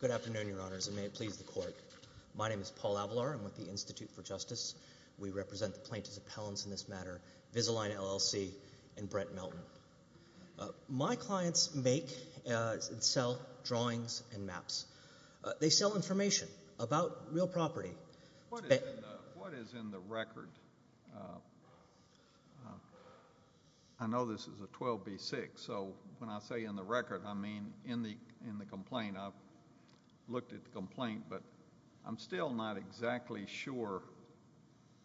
Good afternoon, Your Honors, and may it please the Court. My name is Paul Avalar. I'm with the Institute for Justice. We represent the plaintiffs' appellants in this matter, Vizaline, L.L.C., and Brett Melton. My clients make and sell drawings and maps. They sell information about real property. What is in the record? I know this is a 12B6, so when I say in the record, I mean in the complaint. I've looked at the complaint, but I'm still not exactly sure,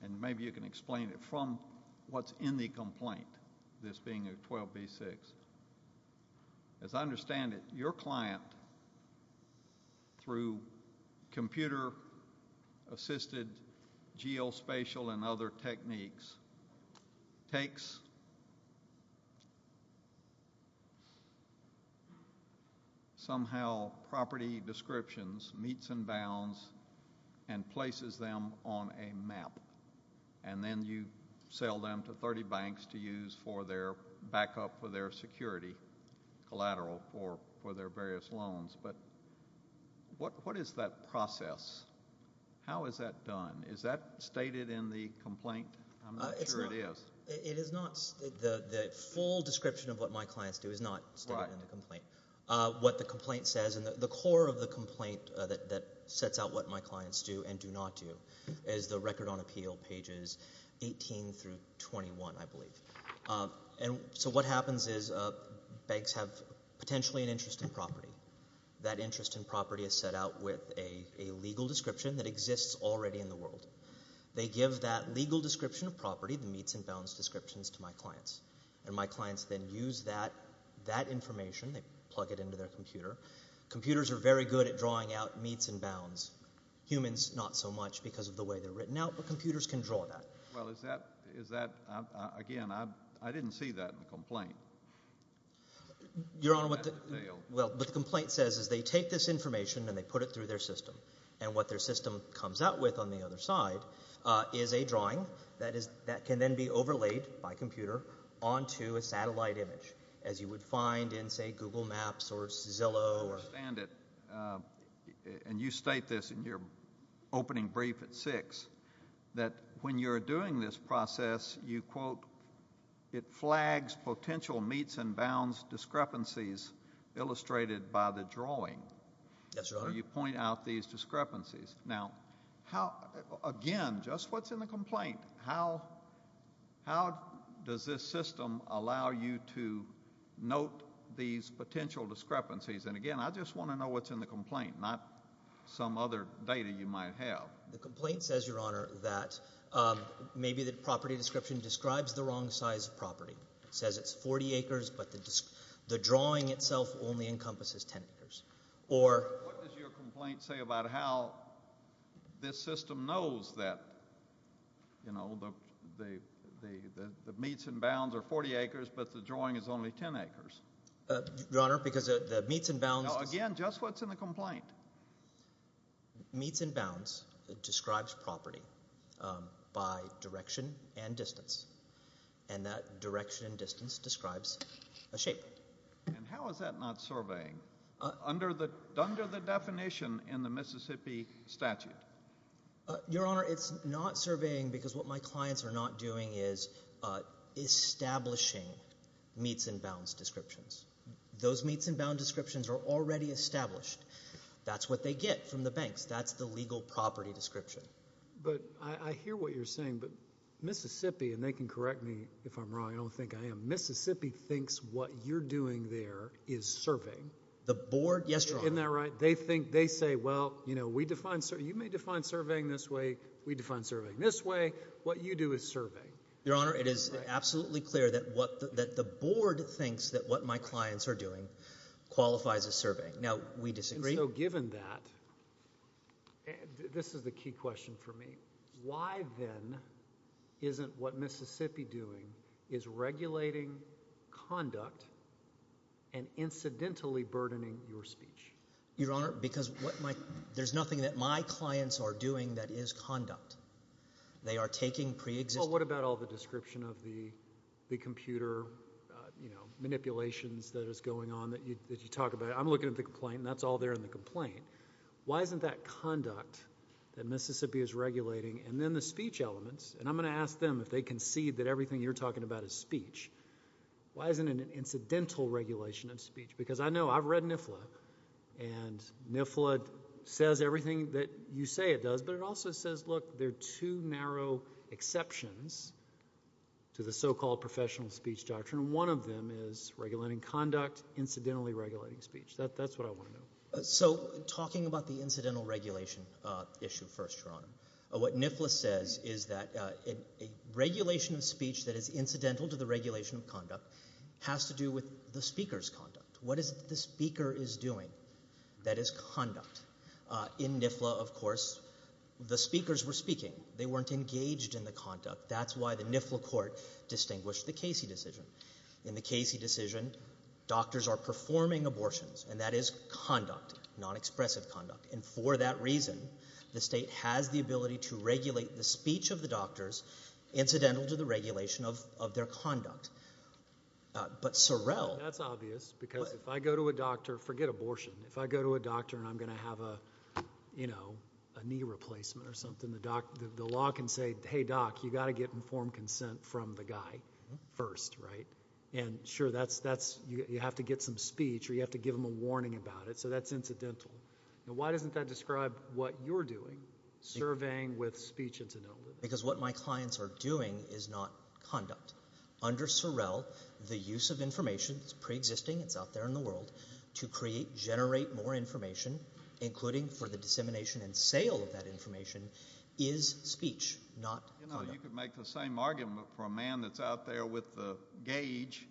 and maybe you can explain it from what's in the complaint, this being a 12B6. As I understand it, your client, through computer-assisted geospatial and other techniques, takes somehow property descriptions, meets and bounds, and places them on a map, and then you sell them to 30 banks to use for their backup for their security, collateral for their various loans. But what is that process? How is that done? Is that stated in the complaint? I'm not sure it is. The full description of what my clients do is not stated in the complaint. What the complaint says and the core of the complaint that sets out what my clients do and do not do is the Record on Appeal, pages 18 through 21, I believe. So what happens is banks have potentially an interest in property. That interest in property is set out with a legal description that exists already in the world. They give that legal description of property, the meets and bounds descriptions, to my clients, and my clients then use that information. They plug it into their computer. Computers are very good at drawing out meets and bounds. Humans, not so much because of the way they're written out, but computers can draw that. Well, is that – again, I didn't see that in the complaint. Your Honor, what the complaint says is they take this information and they put it through their system, and what their system comes out with on the other side is a drawing that can then be overlaid by computer onto a satellite image as you would find in, say, Google Maps or Zillow. I understand it, and you state this in your opening brief at 6 that when you're doing this process, you quote, it flags potential meets and bounds discrepancies illustrated by the drawing. Yes, Your Honor. So you point out these discrepancies. Now, again, just what's in the complaint? How does this system allow you to note these potential discrepancies? And, again, I just want to know what's in the complaint, not some other data you might have. The complaint says, Your Honor, that maybe the property description describes the wrong size of property. It says it's 40 acres, but the drawing itself only encompasses 10 acres. What does your complaint say about how this system knows that the meets and bounds are 40 acres but the drawing is only 10 acres? Your Honor, because the meets and bounds – Now, again, just what's in the complaint? Meets and bounds describes property by direction and distance, and that direction and distance describes a shape. And how is that not surveying under the definition in the Mississippi statute? Your Honor, it's not surveying because what my clients are not doing is establishing meets and bounds descriptions. Those meets and bounds descriptions are already established. That's what they get from the banks. That's the legal property description. But I hear what you're saying, but Mississippi – and they can correct me if I'm wrong. I don't think I am. Mississippi thinks what you're doing there is surveying. The board – yes, Your Honor. Isn't that right? They think – they say, Well, we define – you may define surveying this way. We define surveying this way. What you do is surveying. Now, we disagree. And so given that – this is the key question for me. Why, then, isn't what Mississippi doing is regulating conduct and incidentally burdening your speech? Your Honor, because what my – there's nothing that my clients are doing that is conduct. They are taking preexisting – Well, what about all the description of the computer manipulations that is going on that you talk about? I'm looking at the complaint, and that's all there in the complaint. Why isn't that conduct that Mississippi is regulating and then the speech elements – and I'm going to ask them if they concede that everything you're talking about is speech. Why isn't it an incidental regulation of speech? Because I know – I've read NIFLA, and NIFLA says everything that you say it does, but it also says, Look, there are two narrow exceptions to the so-called professional speech doctrine. One of them is regulating conduct, incidentally regulating speech. That's what I want to know. So talking about the incidental regulation issue first, Your Honor, what NIFLA says is that a regulation of speech that is incidental to the regulation of conduct has to do with the speaker's conduct. What is it that the speaker is doing that is conduct? In NIFLA, of course, the speakers were speaking. They weren't engaged in the conduct. That's why the NIFLA court distinguished the Casey decision. In the Casey decision, doctors are performing abortions, and that is conduct, non-expressive conduct. And for that reason, the state has the ability to regulate the speech of the doctors incidental to the regulation of their conduct. But Sorrell – That's obvious because if I go to a doctor – forget abortion. If I go to a doctor and I'm going to have a knee replacement or something, the law can say, hey, doc, you've got to get informed consent from the guy first, right? And sure, you have to get some speech or you have to give them a warning about it. So that's incidental. Now, why doesn't that describe what you're doing, surveying with speech incidental? Because what my clients are doing is not conduct. Under Sorrell, the use of information, it's preexisting, it's out there in the world, to create, generate more information, including for the dissemination and sale of that information, is speech, not conduct. You could make the same argument for a man that's out there with a gauge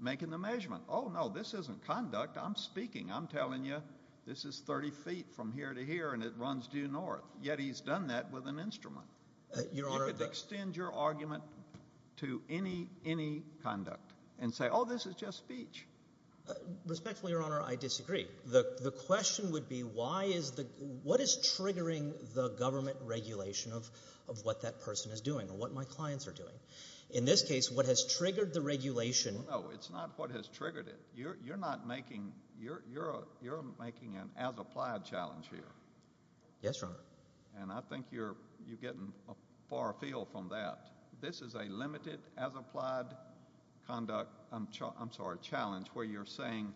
making the measurement. Oh, no, this isn't conduct. I'm speaking. I'm telling you this is 30 feet from here to here and it runs due north. Yet he's done that with an instrument. You could extend your argument to any conduct and say, oh, this is just speech. Respectfully, Your Honor, I disagree. The question would be what is triggering the government regulation of what that person is doing or what my clients are doing? In this case, what has triggered the regulation— No, it's not what has triggered it. You're not making—you're making an as-applied challenge here. Yes, Your Honor. And I think you're getting a far field from that. This is a limited as-applied conduct—I'm sorry, challenge, where you're saying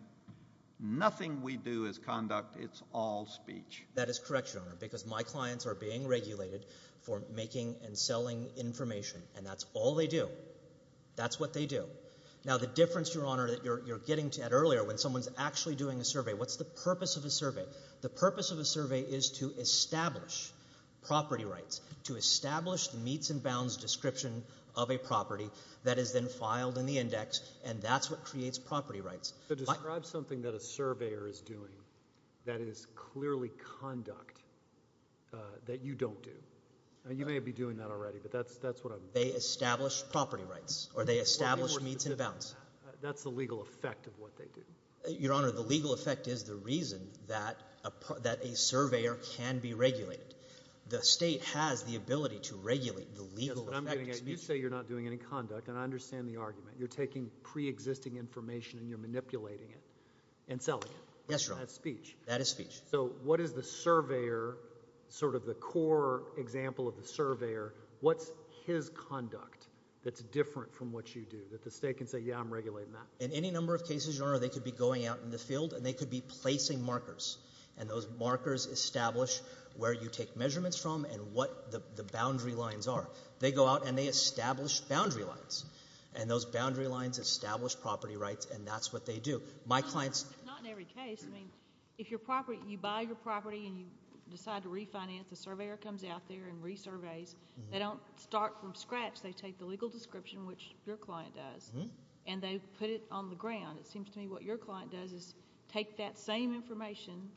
nothing we do is conduct. It's all speech. That is correct, Your Honor, because my clients are being regulated for making and selling information, and that's all they do. That's what they do. Now, the difference, Your Honor, that you're getting at earlier when someone's actually doing a survey, what's the purpose of a survey? The purpose of a survey is to establish property rights, and that's what creates property rights. Describe something that a surveyor is doing that is clearly conduct that you don't do. You may be doing that already, but that's what I'm— They establish property rights, or they establish meets and bounds. That's the legal effect of what they do. Your Honor, the legal effect is the reason that a surveyor can be regulated. The state has the ability to regulate the legal effect. That's what I'm getting at. You say you're not doing any conduct, and I understand the argument. You're taking preexisting information, and you're manipulating it and selling it. Yes, Your Honor. That's speech. That is speech. So what is the surveyor, sort of the core example of the surveyor, what's his conduct that's different from what you do that the state can say, yeah, I'm regulating that? In any number of cases, Your Honor, they could be going out in the field, and they could be placing markers, and those markers establish where you take measurements from and what the boundary lines are. They go out, and they establish boundary lines, and those boundary lines establish property rights, and that's what they do. My clients— It's not in every case. I mean, if you buy your property and you decide to refinance, a surveyor comes out there and resurveys. They don't start from scratch. They take the legal description, which your client does, and they put it on the ground. It seems to me what your client does is take that same information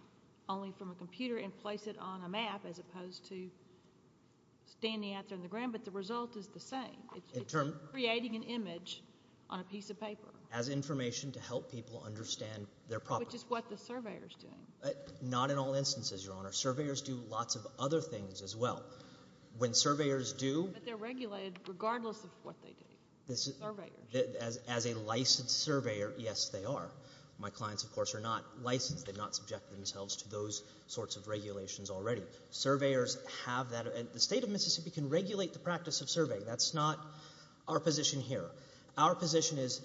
only from a computer and place it on a map as opposed to standing out there on the ground, but the result is the same. It's creating an image on a piece of paper. As information to help people understand their property. Which is what the surveyor is doing. Not in all instances, Your Honor. Surveyors do lots of other things as well. When surveyors do— But they're regulated regardless of what they do. As a licensed surveyor, yes, they are. My clients, of course, are not licensed. They've not subjected themselves to those sorts of regulations already. Surveyors have that. The state of Mississippi can regulate the practice of surveying. That's not our position here. Our position is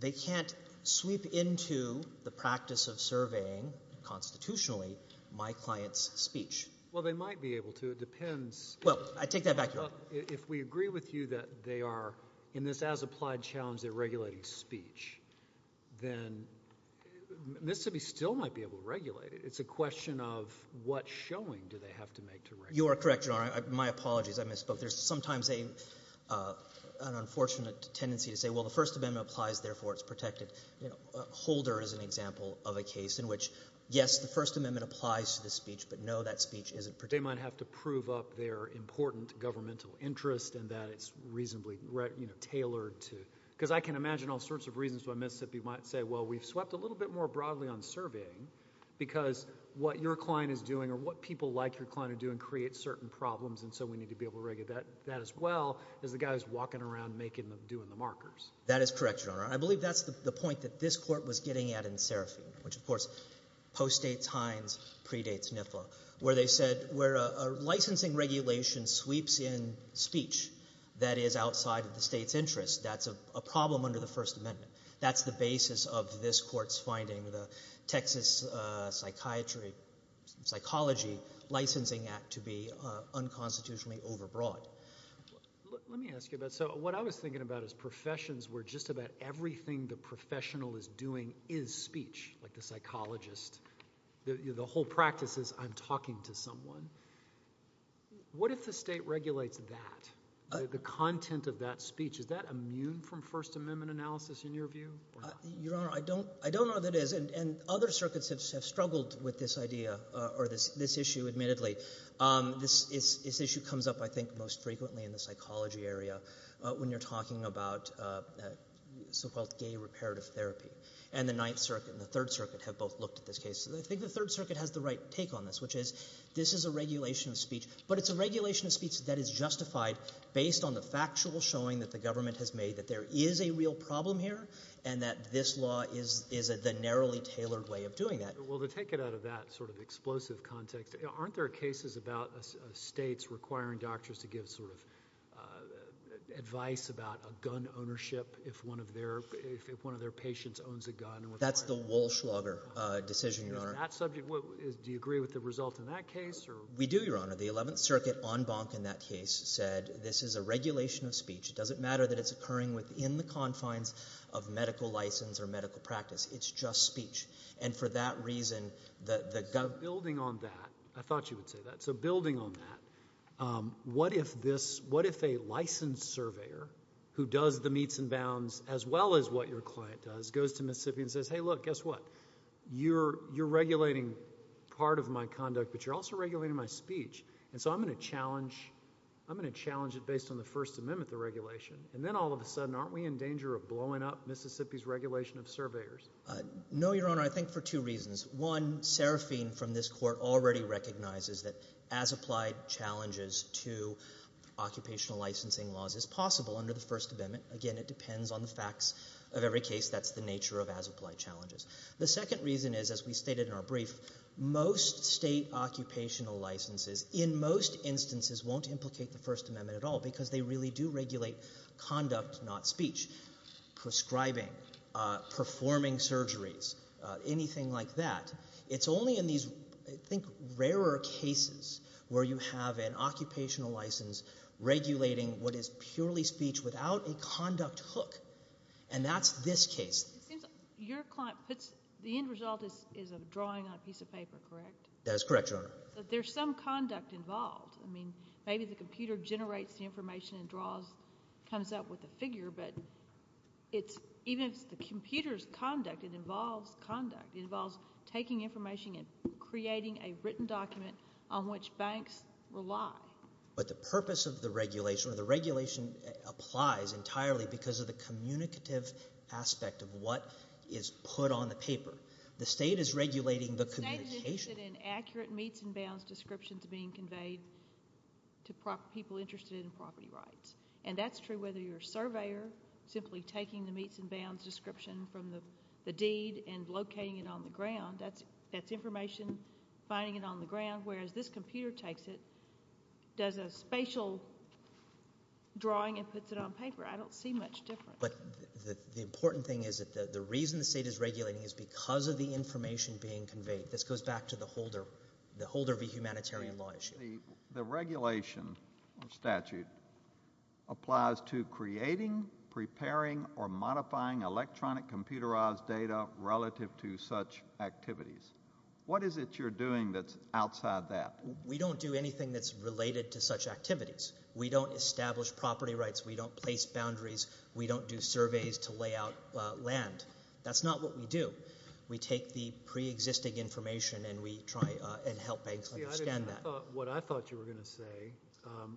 they can't sweep into the practice of surveying constitutionally my client's speech. Well, they might be able to. It depends. Well, I take that back, Your Honor. If we agree with you that they are, in this as-applied challenge, they're regulating speech, then Mississippi still might be able to regulate it. It's a question of what showing do they have to make to regulate it. You are correct, Your Honor. My apologies. I misspoke. There's sometimes an unfortunate tendency to say, well, the First Amendment applies, therefore it's protected. Holder is an example of a case in which, yes, the First Amendment applies to the speech, but no, that speech isn't protected. They might have to prove up their important governmental interest and that it's reasonably tailored to— because I can imagine all sorts of reasons why Mississippi might say, well, we've swept a little bit more broadly on surveying because what your client is doing or what people like your client are doing can create certain problems, and so we need to be able to regulate that as well as the guys walking around doing the markers. That is correct, Your Honor. I believe that's the point that this Court was getting at in Seraphim, which, of course, postdates Hines, predates NIFA, where they said where a licensing regulation sweeps in speech that is outside of the state's interest, that's a problem under the First Amendment. That's the basis of this Court's finding, the Texas Psychology Licensing Act to be unconstitutionally overbroad. Let me ask you about—so what I was thinking about is professions where just about everything the professional is doing is speech, like the psychologist. The whole practice is I'm talking to someone. What if the state regulates that, the content of that speech? Is that immune from First Amendment analysis in your view? Your Honor, I don't know that it is, and other circuits have struggled with this idea or this issue, admittedly. This issue comes up, I think, most frequently in the psychology area when you're talking about so-called gay reparative therapy, and the Ninth Circuit and the Third Circuit have both looked at this case. I think the Third Circuit has the right take on this, which is this is a regulation of speech, but it's a regulation of speech that is justified based on the factual showing that the government has made that there is a real problem here and that this law is the narrowly tailored way of doing that. Well, to take it out of that sort of explosive context, aren't there cases about states requiring doctors to give sort of advice about a gun ownership if one of their patients owns a gun? That's the Walschlager decision, Your Honor. Do you agree with the result in that case? We do, Your Honor. The Eleventh Circuit en banc in that case said this is a regulation of speech. It doesn't matter that it's occurring within the confines of medical license or medical practice. It's just speech. And for that reason, the government... Building on that, I thought you would say that, so building on that, what if a licensed surveyor who does the meets and bounds as well as what your client does goes to Mississippi and says, hey, look, guess what, you're regulating part of my conduct, but you're also regulating my speech, and so I'm going to challenge it based on the First Amendment, the regulation, and then all of a sudden aren't we in danger of blowing up Mississippi's regulation of surveyors? No, Your Honor. I think for two reasons. One, Serafine from this Court already recognizes that as applied challenges to occupational licensing laws is possible under the First Amendment. Again, it depends on the facts of every case. That's the nature of as applied challenges. The second reason is, as we stated in our brief, most state occupational licenses in most instances won't implicate the First Amendment to regulate conduct, not speech. Prescribing, performing surgeries, anything like that. It's only in these, I think, rarer cases where you have an occupational license regulating what is purely speech without a conduct hook, and that's this case. It seems your client puts the end result is a drawing on a piece of paper, correct? That is correct, Your Honor. But there's some conduct involved. I mean, maybe the computer generates the information and draws, comes up with the figure, but even if the computer's conduct, it involves conduct. It involves taking information and creating a written document on which banks rely. But the purpose of the regulation, or the regulation applies entirely because of the communicative aspect of what is put on the paper. The state is regulating the communication. And accurate meets and bounds descriptions being conveyed to people interested in property rights. And that's true whether you're a surveyor, simply taking the meets and bounds description from the deed and locating it on the ground. That's information finding it on the ground, whereas this computer takes it, does a spatial drawing, and puts it on paper. I don't see much difference. But the important thing is that the reason the state is regulating is because of the information being conveyed. This goes back to the Holder v. Humanitarian Law issue. The regulation statute applies to creating, preparing, or modifying electronic computerized data relative to such activities. What is it you're doing that's outside that? We don't do anything that's related to such activities. We don't establish property rights. We don't place boundaries. We don't do surveys to lay out land. That's not what we do. We take the preexisting information and we try and help banks understand that. What I thought you were going to say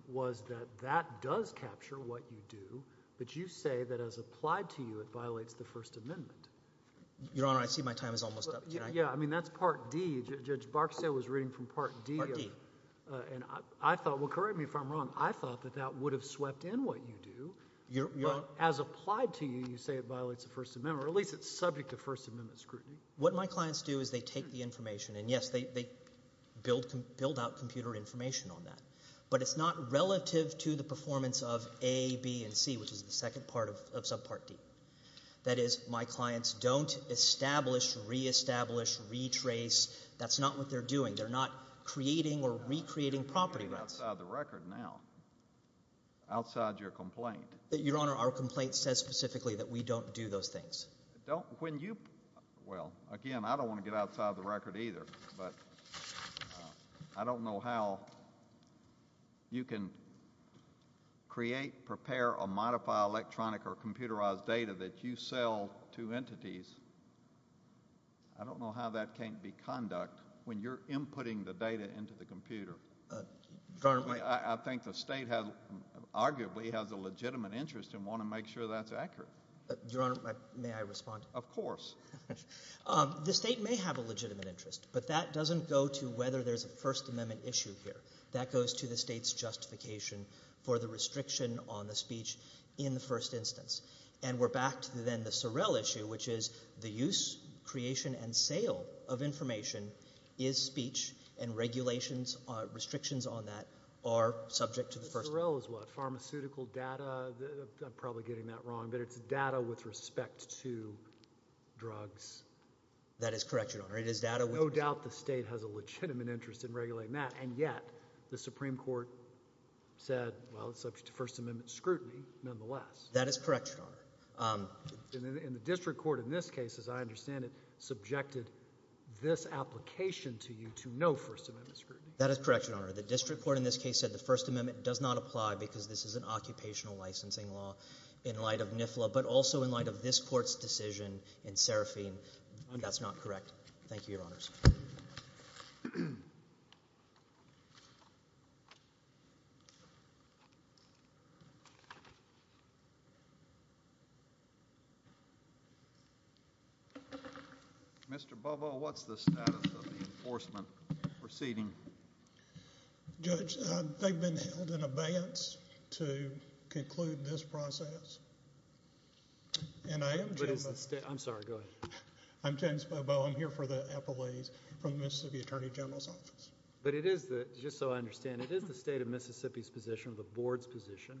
was that that does capture what you do, but you say that as applied to you, it violates the First Amendment. Your Honor, I see my time is almost up. Yeah, I mean that's Part D. Judge Barksdale was reading from Part D. Part D. And I thought – well, correct me if I'm wrong. I thought that that would have swept in what you do. But as applied to you, you say it violates the First Amendment, or at least it's subject to First Amendment scrutiny. What my clients do is they take the information, and, yes, they build out computer information on that. But it's not relative to the performance of A, B, and C, which is the second part of Subpart D. That is, my clients don't establish, reestablish, retrace. That's not what they're doing. They're not creating or recreating property rights. You're outside the record now, outside your complaint. Your Honor, our complaint says specifically that we don't do those things. Don't – when you – well, again, I don't want to get outside the record either. But I don't know how you can create, prepare, or modify electronic or computerized data that you sell to entities. I don't know how that can't be conduct when you're inputting the data into the computer. I think the state has – arguably has a legitimate interest and want to make sure that's accurate. Your Honor, may I respond? Of course. The state may have a legitimate interest, but that doesn't go to whether there's a First Amendment issue here. That goes to the state's justification for the restriction on the speech in the first instance. And we're back to then the Sorrell issue, which is the use, creation, and sale of information is speech, and regulations or restrictions on that are subject to the First Amendment. Sorrell is what? Pharmaceutical data? I'm probably getting that wrong, but it's data with respect to drugs. That is correct, Your Honor. It is data with – No doubt the state has a legitimate interest in regulating that, and yet the Supreme Court said, well, it's subject to First Amendment scrutiny nonetheless. That is correct, Your Honor. And the district court in this case, as I understand it, subjected this application to you to no First Amendment scrutiny. That is correct, Your Honor. The district court in this case said the First Amendment does not apply because this is an occupational licensing law in light of NIFLA, but also in light of this court's decision in Seraphine. That's not correct. Thank you, Your Honors. Mr. Bobo, what's the status of the enforcement proceeding? Judge, they've been held in abeyance to conclude this process. I'm sorry. Go ahead. I'm James Bobo. I'm here for the appellees from the Mississippi Attorney General's Office. But it is, just so I understand, it is the state of Mississippi's position, the board's position,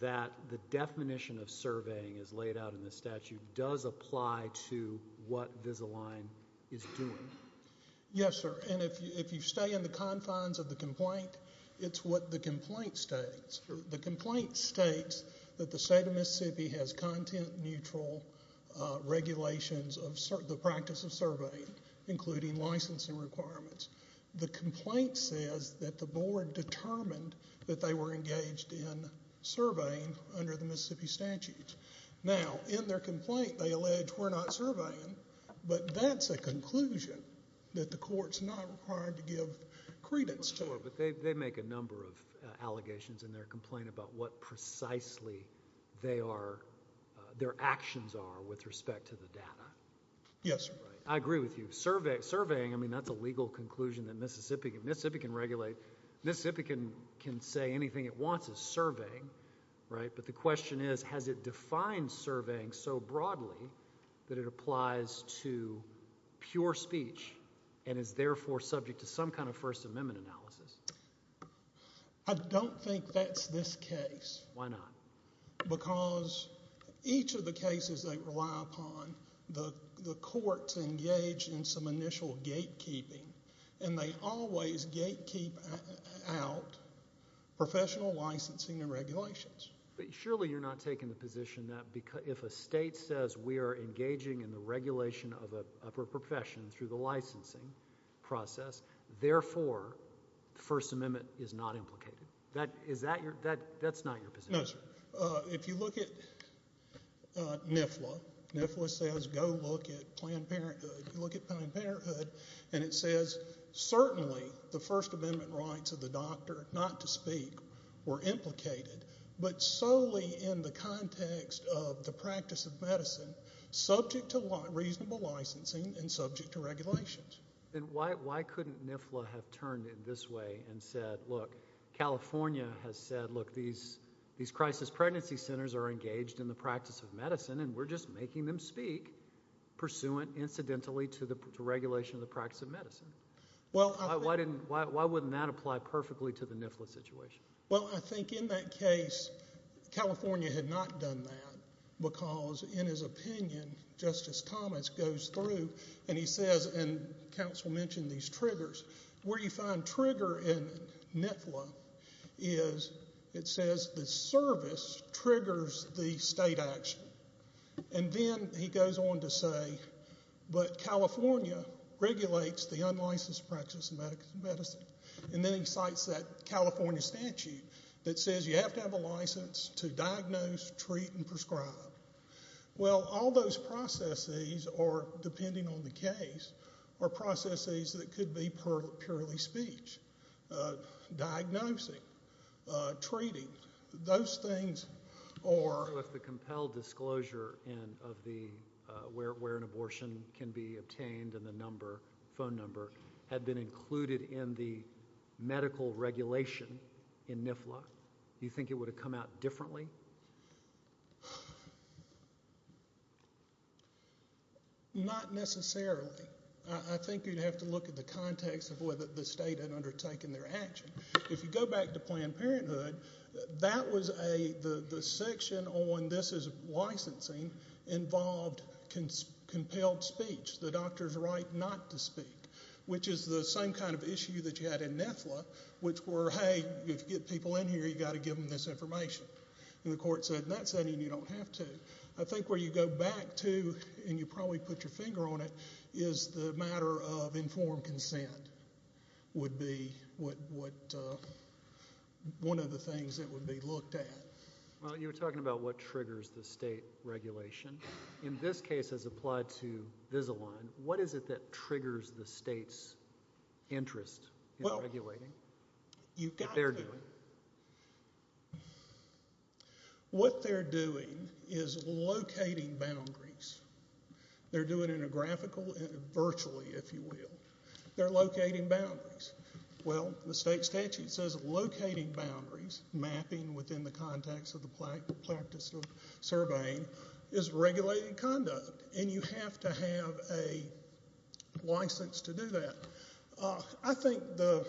that the definition of surveying as laid out in the statute does apply to what Visalign is doing. Yes, sir, and if you stay in the confines of the complaint, it's what the complaint states. The complaint states that the state of Mississippi has content-neutral regulations of the practice of surveying, including licensing requirements. The complaint says that the board determined that they were engaged in surveying under the Mississippi statute. Now, in their complaint, they allege we're not surveying, but that's a conclusion that the court's not required to give credence to. But they make a number of allegations in their complaint about what precisely their actions are with respect to the data. Yes, sir. I agree with you. Surveying, I mean, that's a legal conclusion that Mississippi can regulate. Mississippi can say anything it wants is surveying, right? But the question is, has it defined surveying so broadly that it applies to pure speech and is therefore subject to some kind of First Amendment analysis? I don't think that's this case. Why not? Because each of the cases they rely upon, the courts engage in some initial gatekeeping, and they always gatekeep out professional licensing and regulations. But surely you're not taking the position that if a state says we are engaging in the regulation of a profession through the licensing process, therefore the First Amendment is not implicated. That's not your position. No, sir. If you look at NIFLA, NIFLA says go look at Planned Parenthood. You look at Planned Parenthood, and it says certainly the First Amendment rights of the doctor not to speak were implicated, but solely in the context of the practice of medicine, subject to reasonable licensing and subject to regulations. Then why couldn't NIFLA have turned in this way and said, look, California has said, look, these crisis pregnancy centers are engaged in the practice of medicine, and we're just making them speak pursuant incidentally to regulation of the practice of medicine? Why wouldn't that apply perfectly to the NIFLA situation? Well, I think in that case California had not done that because, in his opinion, Justice Thomas goes through and he says, and counsel mentioned these triggers, where you find trigger in NIFLA is it says the service triggers the state action. And then he goes on to say, but California regulates the unlicensed practice of medicine. And then he cites that California statute that says you have to have a license to diagnose, treat, and prescribe. Well, all those processes are, depending on the case, are processes that could be purely speech. Diagnosing, treating, those things are- So if the compelled disclosure of where an abortion can be obtained and the phone number had been included in the medical regulation in NIFLA, do you think it would have come out differently? Not necessarily. I think you'd have to look at the context of whether the state had undertaken their action. If you go back to Planned Parenthood, that was a-the section on this is licensing involved compelled speech, the doctor's right not to speak, which is the same kind of issue that you had in NIFLA, which were, hey, if you get people in here, you've got to give them this information. And the court said, in that setting, you don't have to. I think where you go back to, and you probably put your finger on it, is the matter of informed consent would be what-one of the things that would be looked at. Well, you were talking about what triggers the state regulation. In this case, as applied to Vizalign, what is it that triggers the state's interest in regulating that they're doing? What they're doing is locating boundaries. They're doing it in a graphical, virtually, if you will. They're locating boundaries. Well, the state statute says locating boundaries, mapping within the context of the practice of surveying, is regulating conduct, and you have to have a license to do that. I think the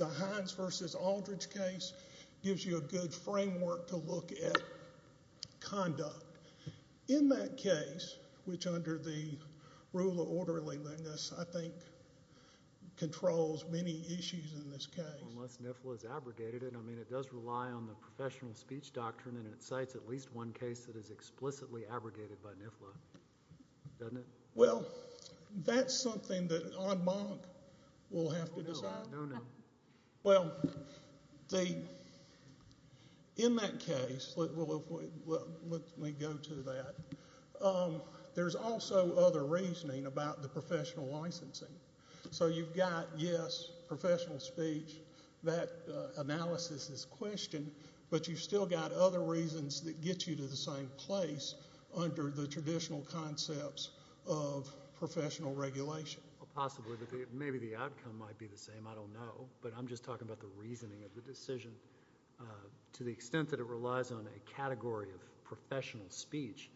Hines v. Aldridge case gives you a good framework to look at conduct. In that case, which under the rule of orderliness, I think, controls many issues in this case. Unless NIFLA is abrogated. I mean, it does rely on the professional speech doctrine, and it cites at least one case that is explicitly abrogated by NIFLA, doesn't it? Well, that's something that Aud Bonk will have to decide. No, no. Well, in that case, let me go to that, there's also other reasoning about the professional licensing. So you've got, yes, professional speech, that analysis is questioned, but you've still got other reasons that get you to the same place under the traditional concepts of professional regulation. Possibly. Maybe the outcome might be the same. I don't know. But I'm just talking about the reasoning of the decision. To the extent that it relies on a category of professional speech,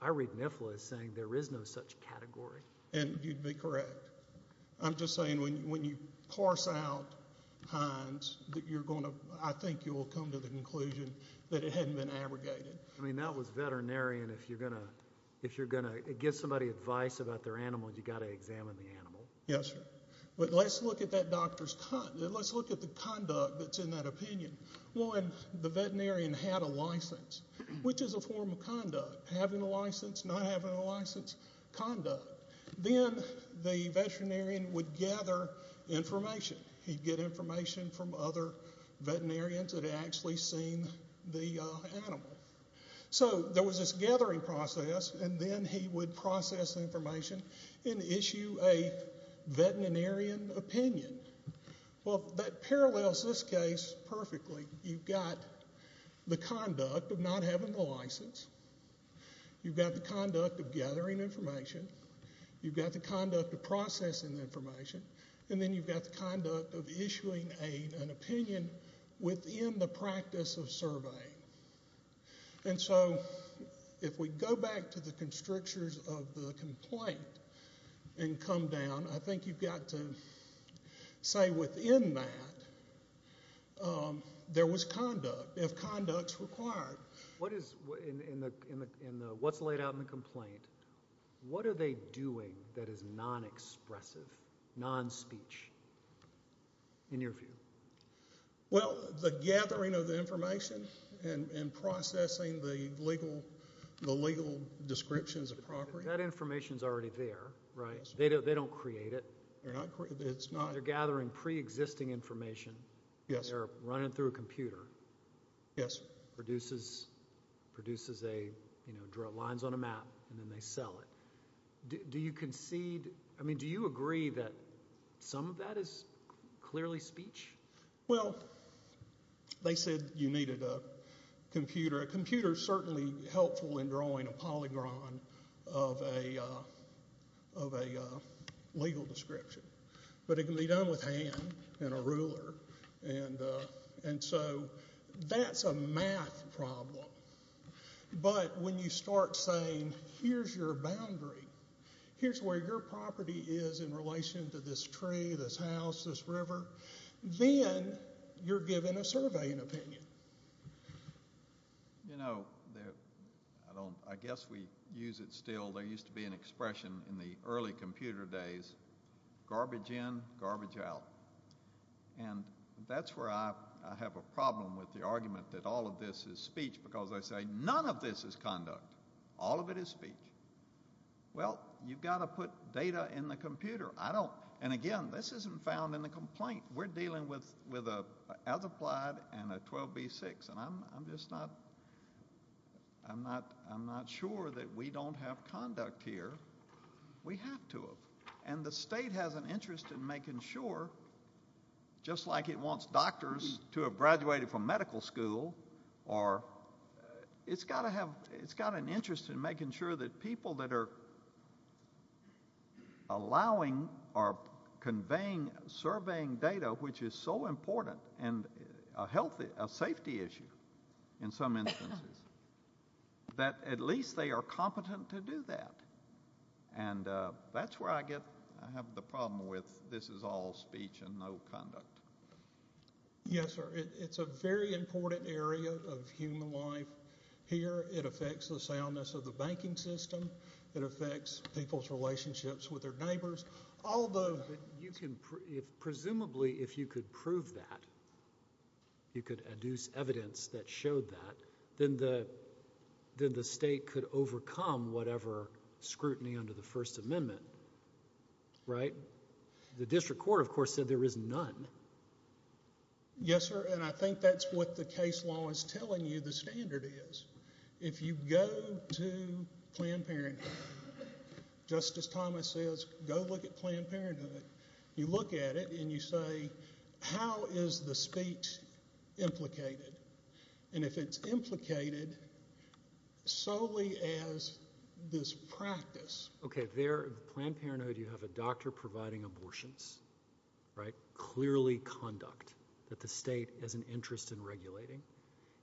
I read NIFLA as saying there is no such category. And you'd be correct. I'm just saying when you parse out Hines, I think you will come to the conclusion that it hadn't been abrogated. I mean, that was veterinarian. If you're going to give somebody advice about their animal, you've got to examine the animal. Yes, sir. But let's look at the conduct that's in that opinion. Having a license, not having a license, conduct. Then the veterinarian would gather information. He'd get information from other veterinarians that had actually seen the animal. So there was this gathering process, and then he would process information and issue a veterinarian opinion. Well, that parallels this case perfectly. You've got the conduct of not having a license. You've got the conduct of gathering information. You've got the conduct of processing the information. And then you've got the conduct of issuing an opinion within the practice of surveying. And so if we go back to the constrictors of the complaint and come down, I think you've got to say within that there was conduct, if conduct's required. What's laid out in the complaint, what are they doing that is non-expressive, non-speech, in your view? Well, the gathering of the information and processing the legal descriptions of property. That information's already there, right? They don't create it. They're gathering pre-existing information. They're running it through a computer. It produces lines on a map, and then they sell it. Do you agree that some of that is clearly speech? Well, they said you needed a computer. A computer's certainly helpful in drawing a polygon of a legal description. But it can be done with a hand and a ruler. And so that's a math problem. But when you start saying here's your boundary, here's where your property is in relation to this tree, this house, this river, then you're giving a surveying opinion. You know, I guess we use it still. There used to be an expression in the early computer days, garbage in, garbage out. And that's where I have a problem with the argument that all of this is speech because I say none of this is conduct. All of it is speech. Well, you've got to put data in the computer. And, again, this isn't found in the complaint. We're dealing with an as-applied and a 12B6, and I'm just not sure that we don't have conduct here. We have to have. And the state has an interest in making sure, just like it wants doctors to have graduated from medical school, it's got an interest in making sure that people that are allowing or conveying, surveying data, which is so important, and a safety issue in some instances, that at least they are competent to do that. And that's where I have the problem with this is all speech and no conduct. Yes, sir. It's a very important area of human life here. It affects the soundness of the banking system. It affects people's relationships with their neighbors. Although you can presumably, if you could prove that, you could adduce evidence that showed that, then the state could overcome whatever scrutiny under the First Amendment, right? The district court, of course, said there is none. Yes, sir, and I think that's what the case law is telling you the standard is. If you go to Planned Parenthood, Justice Thomas says, go look at Planned Parenthood. You look at it, and you say, how is the speech implicated? And if it's implicated solely as this practice. Okay, there at Planned Parenthood, you have a doctor providing abortions, right? Clearly conduct that the state has an interest in regulating,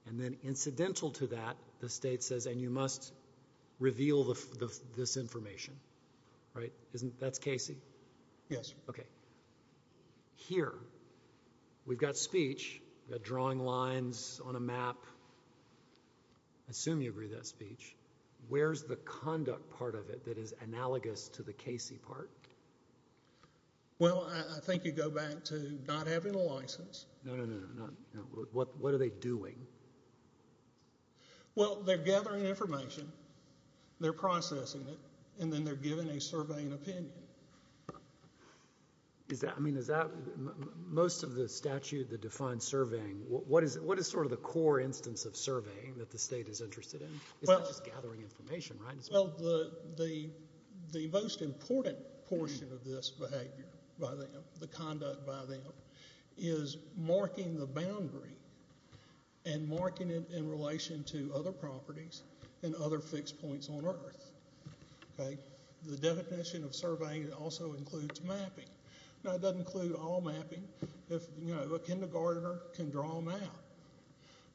and then incidental to that, the state says, and you must reveal this information, right? That's Casey? Yes, sir. Okay. Here, we've got speech. We've got drawing lines on a map. Assume you agree with that speech. Where's the conduct part of it that is analogous to the Casey part? Well, I think you go back to not having a license. No, no, no, no. What are they doing? Well, they're gathering information, they're processing it, and then they're giving a surveying opinion. I mean, is that most of the statute that defines surveying, what is sort of the core instance of surveying that the state is interested in? It's not just gathering information, right? Well, the most important portion of this behavior, the conduct by them, is marking the boundary and marking it in relation to other properties and other fixed points on earth. The definition of surveying also includes mapping. Now, it doesn't include all mapping. A kindergartner can draw a map,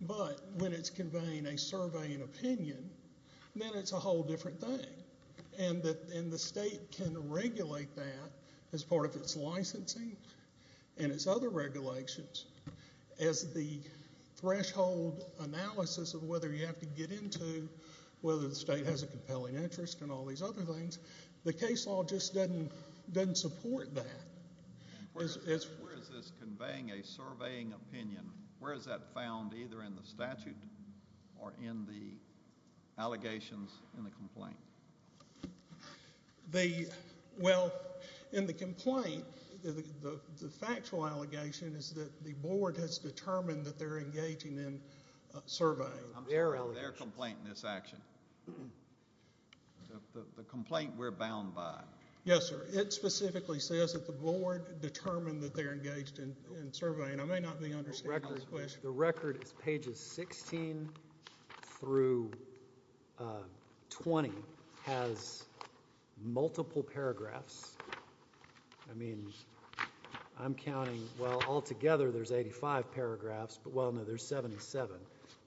but when it's conveying a surveying opinion, then it's a whole different thing, and the state can regulate that as part of its licensing and its other regulations as the threshold analysis of whether you have to get into whether the state has a compelling interest and all these other things. The case law just doesn't support that. Where is this conveying a surveying opinion? Where is that found, either in the statute or in the allegations in the complaint? Well, in the complaint, the factual allegation is that the board has determined that they're engaging in surveying. I'm talking about their complaint in this action, the complaint we're bound by. Yes, sir. It specifically says that the board determined that they're engaged in surveying. I may not be understanding this question. The record is pages 16 through 20 has multiple paragraphs. I mean, I'm counting, well, altogether there's 85 paragraphs, but, well, no, there's 77.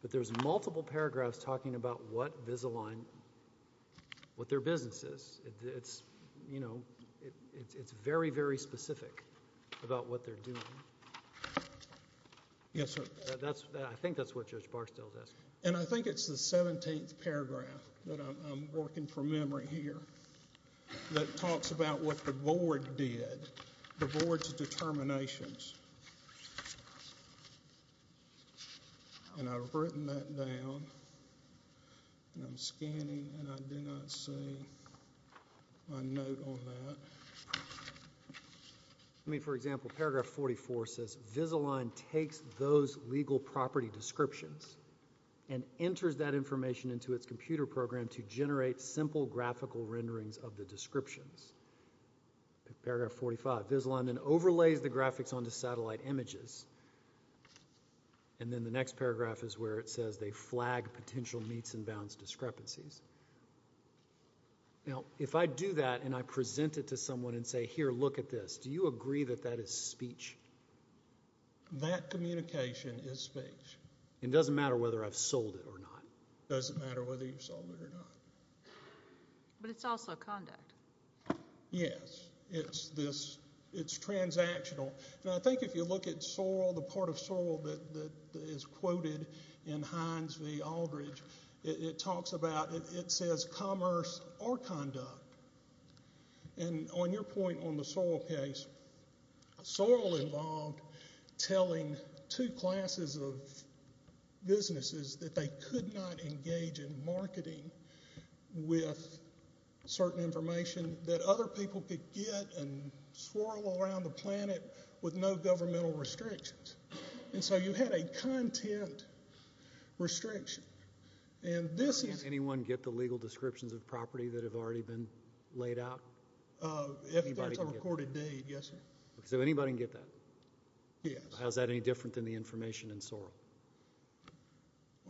But there's multiple paragraphs talking about what their business is. It's very, very specific about what they're doing. Yes, sir. I think that's what Judge Barstow is asking. I think it's the 17th paragraph that I'm working from memory here that talks about what the board did, the board's determinations. And I've written that down, and I'm scanning, and I do not see my note on that. I mean, for example, paragraph 44 says, Visalign takes those legal property descriptions and enters that information into its computer program to generate simple graphical renderings of the descriptions. Paragraph 45, Visalign then overlays the graphics onto satellite images. And then the next paragraph is where it says they flag potential meets and bounds discrepancies. Now, if I do that and I present it to someone and say, here, look at this, do you agree that that is speech? That communication is speech. It doesn't matter whether I've sold it or not. It doesn't matter whether you've sold it or not. But it's also conduct. Yes, it's transactional. Now, I think if you look at Sorel, the part of Sorel that is quoted in Hines v. Aldridge, it talks about, it says commerce or conduct. And on your point on the Sorel case, Sorel involved telling two classes of businesses that they could not engage in marketing with certain information that other people could get and swirl around the planet with no governmental restrictions. And so you had a content restriction. Can't anyone get the legal descriptions of property that have already been laid out? If that's a recorded deed, yes, sir. So anybody can get that? Yes. How is that any different than the information in Sorel?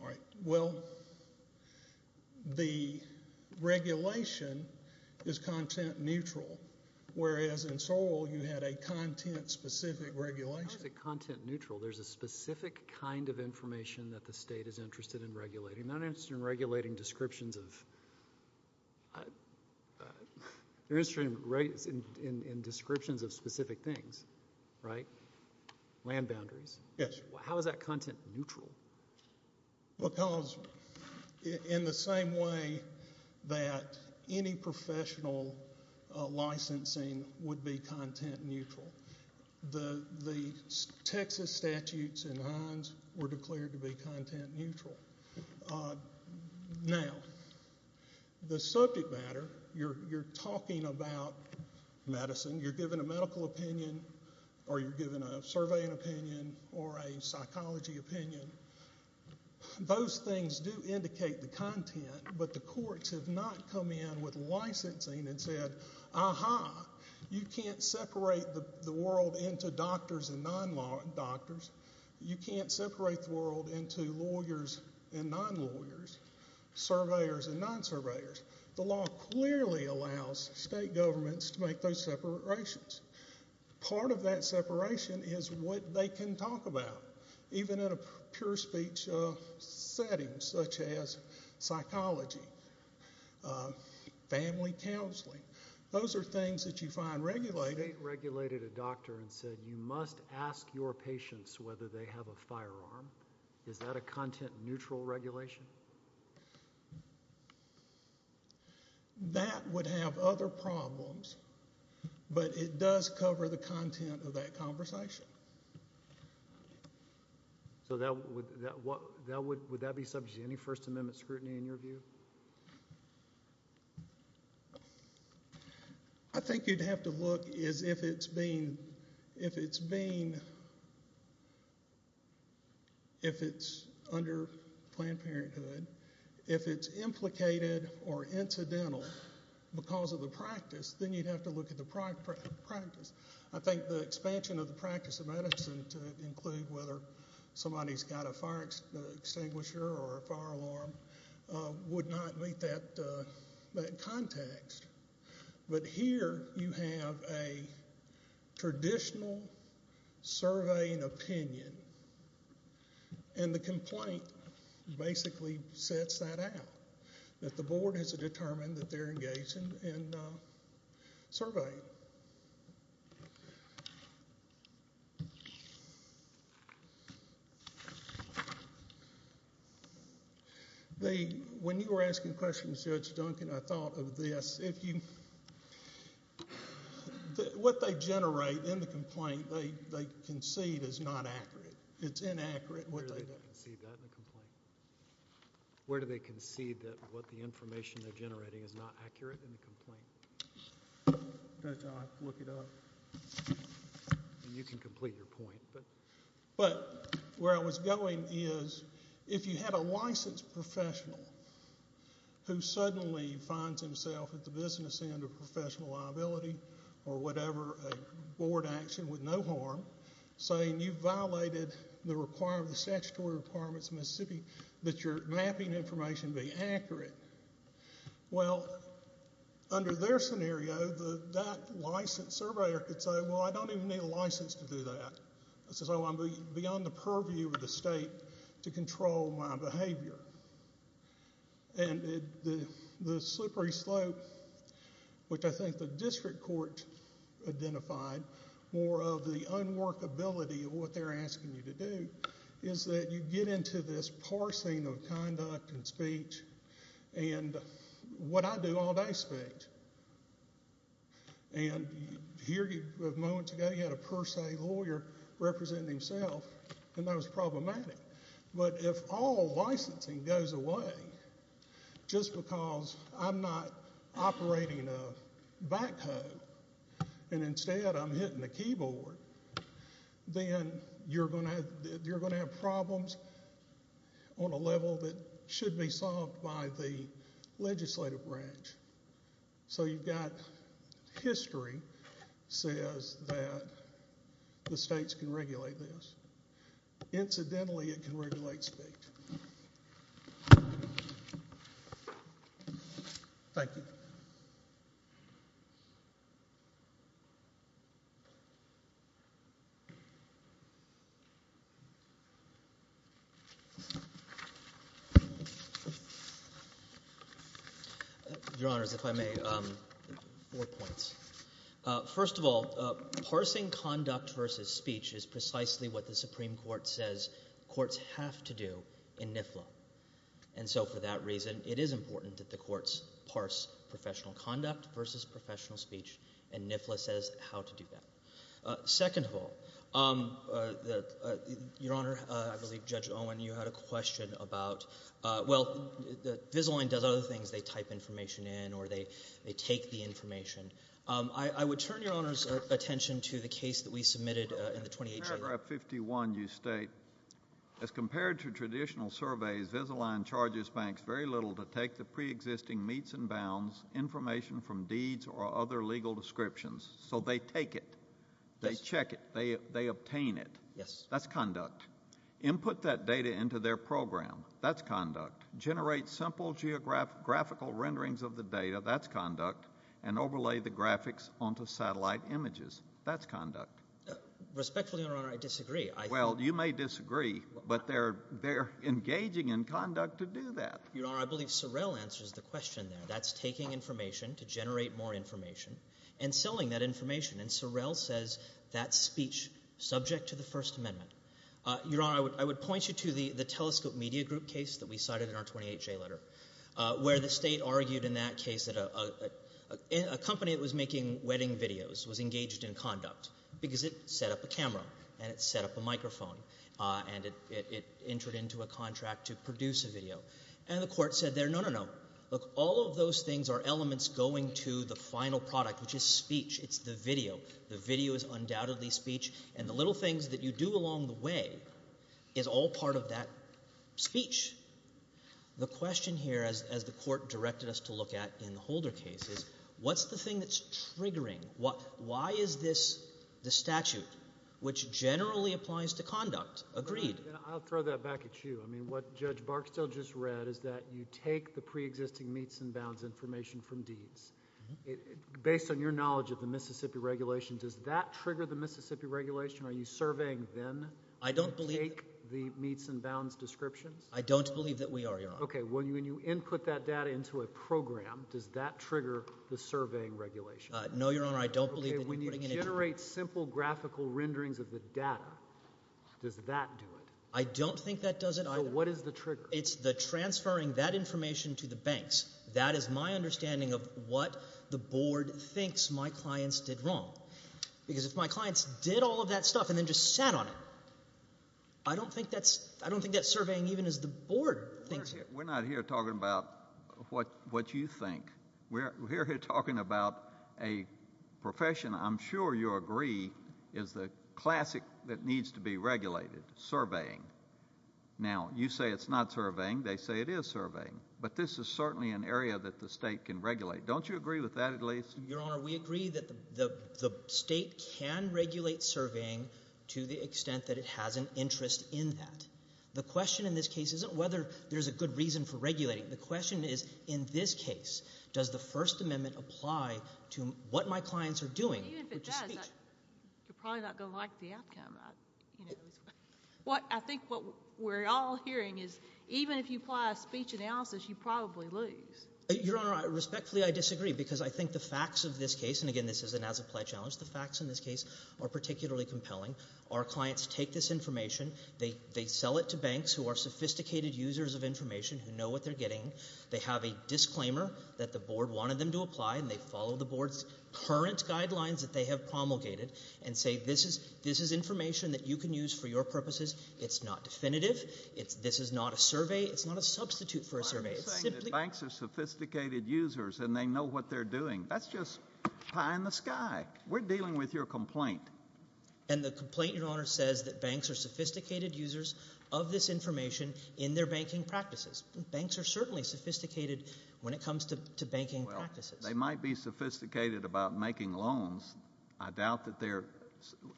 All right, well, the regulation is content neutral, whereas in Sorel you had a content-specific regulation. How is it content neutral? There's a specific kind of information that the state is interested in regulating. They're not interested in regulating descriptions of specific things, right? Land boundaries. Yes, sir. How is that content neutral? Because in the same way that any professional licensing would be content neutral, the Texas statutes and lines were declared to be content neutral. Now, the subject matter, you're talking about medicine, you're giving a medical opinion or you're giving a surveying opinion or a psychology opinion. Those things do indicate the content, but the courts have not come in with licensing and said, Aha, you can't separate the world into doctors and non-doctors. You can't separate the world into lawyers and non-lawyers, surveyors and non-surveyors. The law clearly allows state governments to make those separations. Part of that separation is what they can talk about, even in a pure speech setting such as psychology, family counseling. Those are things that you find regulated. The state regulated a doctor and said, You must ask your patients whether they have a firearm. Is that a content neutral regulation? That would have other problems, but it does cover the content of that conversation. Would that be subject to any First Amendment scrutiny in your view? I think you'd have to look as if it's being, if it's under Planned Parenthood, if it's implicated or incidental because of the practice, then you'd have to look at the practice. I think the expansion of the practice of medicine to include whether somebody's got a fire extinguisher or a fire alarm would not meet that context. But here you have a traditional surveying opinion, and the complaint basically sets that out, that the board has to determine that they're engaged in surveying. When you were asking questions, Judge Duncan, I thought of this. What they generate in the complaint they concede is not accurate. It's inaccurate. Where do they concede that in the complaint? Where do they concede that what the information they're generating is not accurate in the complaint? You can complete your point. But where I was going is if you had a licensed professional who suddenly finds himself at the business end of professional liability or whatever, a board action with no harm, saying you've violated the statutory requirements of Mississippi that your mapping information be accurate, well, under their scenario, that licensed surveyor could say, well, I don't even need a license to do that. This is beyond the purview of the state to control my behavior. And the slippery slope, which I think the district court identified, more of the unworkability of what they're asking you to do is that you get into this parsing of conduct and speech and what I do all day spent. And moments ago you had a per se lawyer representing himself and that was problematic. But if all licensing goes away just because I'm not operating a backhoe and instead I'm hitting a keyboard, then you're going to have problems on a level that should be solved by the legislative branch. So you've got history says that the states can regulate this. Incidentally, it can regulate state. Thank you. Your Honors, if I may, four points. First of all, parsing conduct versus speech is precisely what the Supreme Court says courts have to do in NIFLA. And so for that reason, it is important that the courts parse professional conduct versus speech. And NIFLA says how to do that. Second of all, Your Honor, I believe Judge Owen, you had a question about, well, Visalign does other things, they type information in or they take the information. I would turn Your Honor's attention to the case that we submitted in the 2018. In paragraph 51 you state, as compared to traditional surveys, Visalign charges banks very little to take the preexisting meets and bounds information from deeds or other legal descriptions. So they take it. They check it. They obtain it. Yes. That's conduct. Input that data into their program. That's conduct. Generate simple geographical renderings of the data. That's conduct. And overlay the graphics onto satellite images. That's conduct. Respectfully, Your Honor, I disagree. Well, you may disagree, but they're engaging in conduct to do that. Your Honor, I believe Sorrell answers the question there. That's taking information to generate more information and selling that information. And Sorrell says that speech, subject to the First Amendment. Your Honor, I would point you to the Telescope Media Group case that we cited in our 28-J letter, where the state argued in that case that a company that was making wedding videos was engaged in conduct because it set up a camera and it set up a microphone and it entered into a contract to produce a video. And the court said there, no, no, no. Look, all of those things are elements going to the final product, which is speech. It's the video. The video is undoubtedly speech. And the little things that you do along the way is all part of that speech. The question here, as the court directed us to look at in the Holder case, is what's the thing that's triggering? Why is this the statute, which generally applies to conduct? Agreed. I'll throw that back at you. I mean, what Judge Barksdale just read is that you take the preexisting meets and bounds information from deeds. Based on your knowledge of the Mississippi Regulation, does that trigger the Mississippi Regulation? Are you surveying them to take the meets and bounds descriptions? I don't believe that we are, Your Honor. Okay. When you input that data into a program, does that trigger the surveying regulation? No, Your Honor, I don't believe it. When you generate simple graphical renderings of the data, does that do it? I don't think that does it either. So what is the trigger? It's the transferring that information to the banks. That is my understanding of what the board thinks my clients did wrong. Because if my clients did all of that stuff and then just sat on it, I don't think that's surveying even as the board thinks. We're not here talking about what you think. We're here talking about a profession, I'm sure you'll agree, is the classic that needs to be regulated, surveying. Now, you say it's not surveying. They say it is surveying. But this is certainly an area that the state can regulate. Don't you agree with that at least? Your Honor, we agree that the state can regulate surveying to the extent that it has an interest in that. The question in this case isn't whether there's a good reason for regulating. The question is, in this case, does the First Amendment apply to what my clients are doing? Even if it does, you're probably not going to like the outcome. I think what we're all hearing is, even if you apply a speech analysis, you probably lose. Your Honor, respectfully, I disagree, because I think the facts of this case, and, again, this is an as-applied challenge, the facts in this case are particularly compelling. Our clients take this information, they sell it to banks who are sophisticated users of information, who know what they're getting. They have a disclaimer that the board wanted them to apply, and they follow the board's current guidelines that they have promulgated and say, this is information that you can use for your purposes. It's not definitive. This is not a survey. It's not a substitute for a survey. I'm not saying that banks are sophisticated users and they know what they're doing. That's just pie in the sky. We're dealing with your complaint. And the complaint, Your Honor, says that banks are sophisticated users of this information in their banking practices. Banks are certainly sophisticated when it comes to banking practices. They might be sophisticated about making loans. I doubt that they're,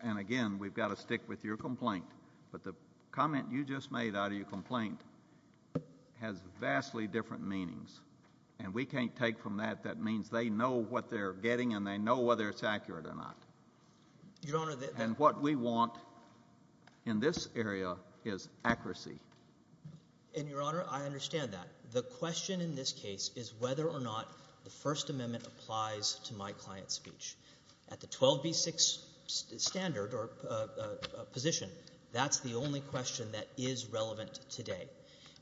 and, again, we've got to stick with your complaint, but the comment you just made out of your complaint has vastly different meanings, and we can't take from that that means they know what they're getting and they know whether it's accurate or not. And what we want in this area is accuracy. And, Your Honor, I understand that. The question in this case is whether or not the First Amendment applies to my client's speech. At the 12b-6 standard or position, that's the only question that is relevant today.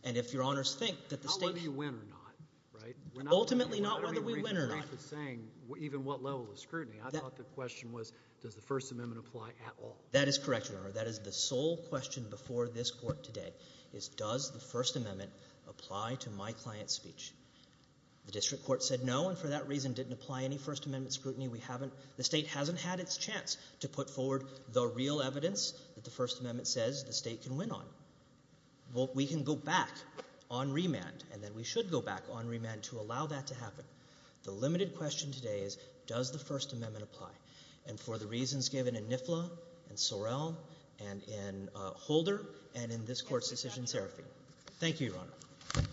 And if Your Honors think that the state— How whether you win or not, right? Ultimately not whether we win or not. I don't mean to break the saying even what level of scrutiny. I thought the question was does the First Amendment apply at all. That is correct, Your Honor. That is the sole question before this Court today, is does the First Amendment apply to my client's speech. The district court said no and for that reason didn't apply any First Amendment scrutiny. We haven't—the state hasn't had its chance to put forward the real evidence that the First Amendment says the state can win on. We can go back on remand, and then we should go back on remand to allow that to happen. The limited question today is does the First Amendment apply, and for the reasons given in NIFLA and Sorrell and in Holder and in this Court's decision therapy. Thank you, Your Honor. Thank you, Your Honor.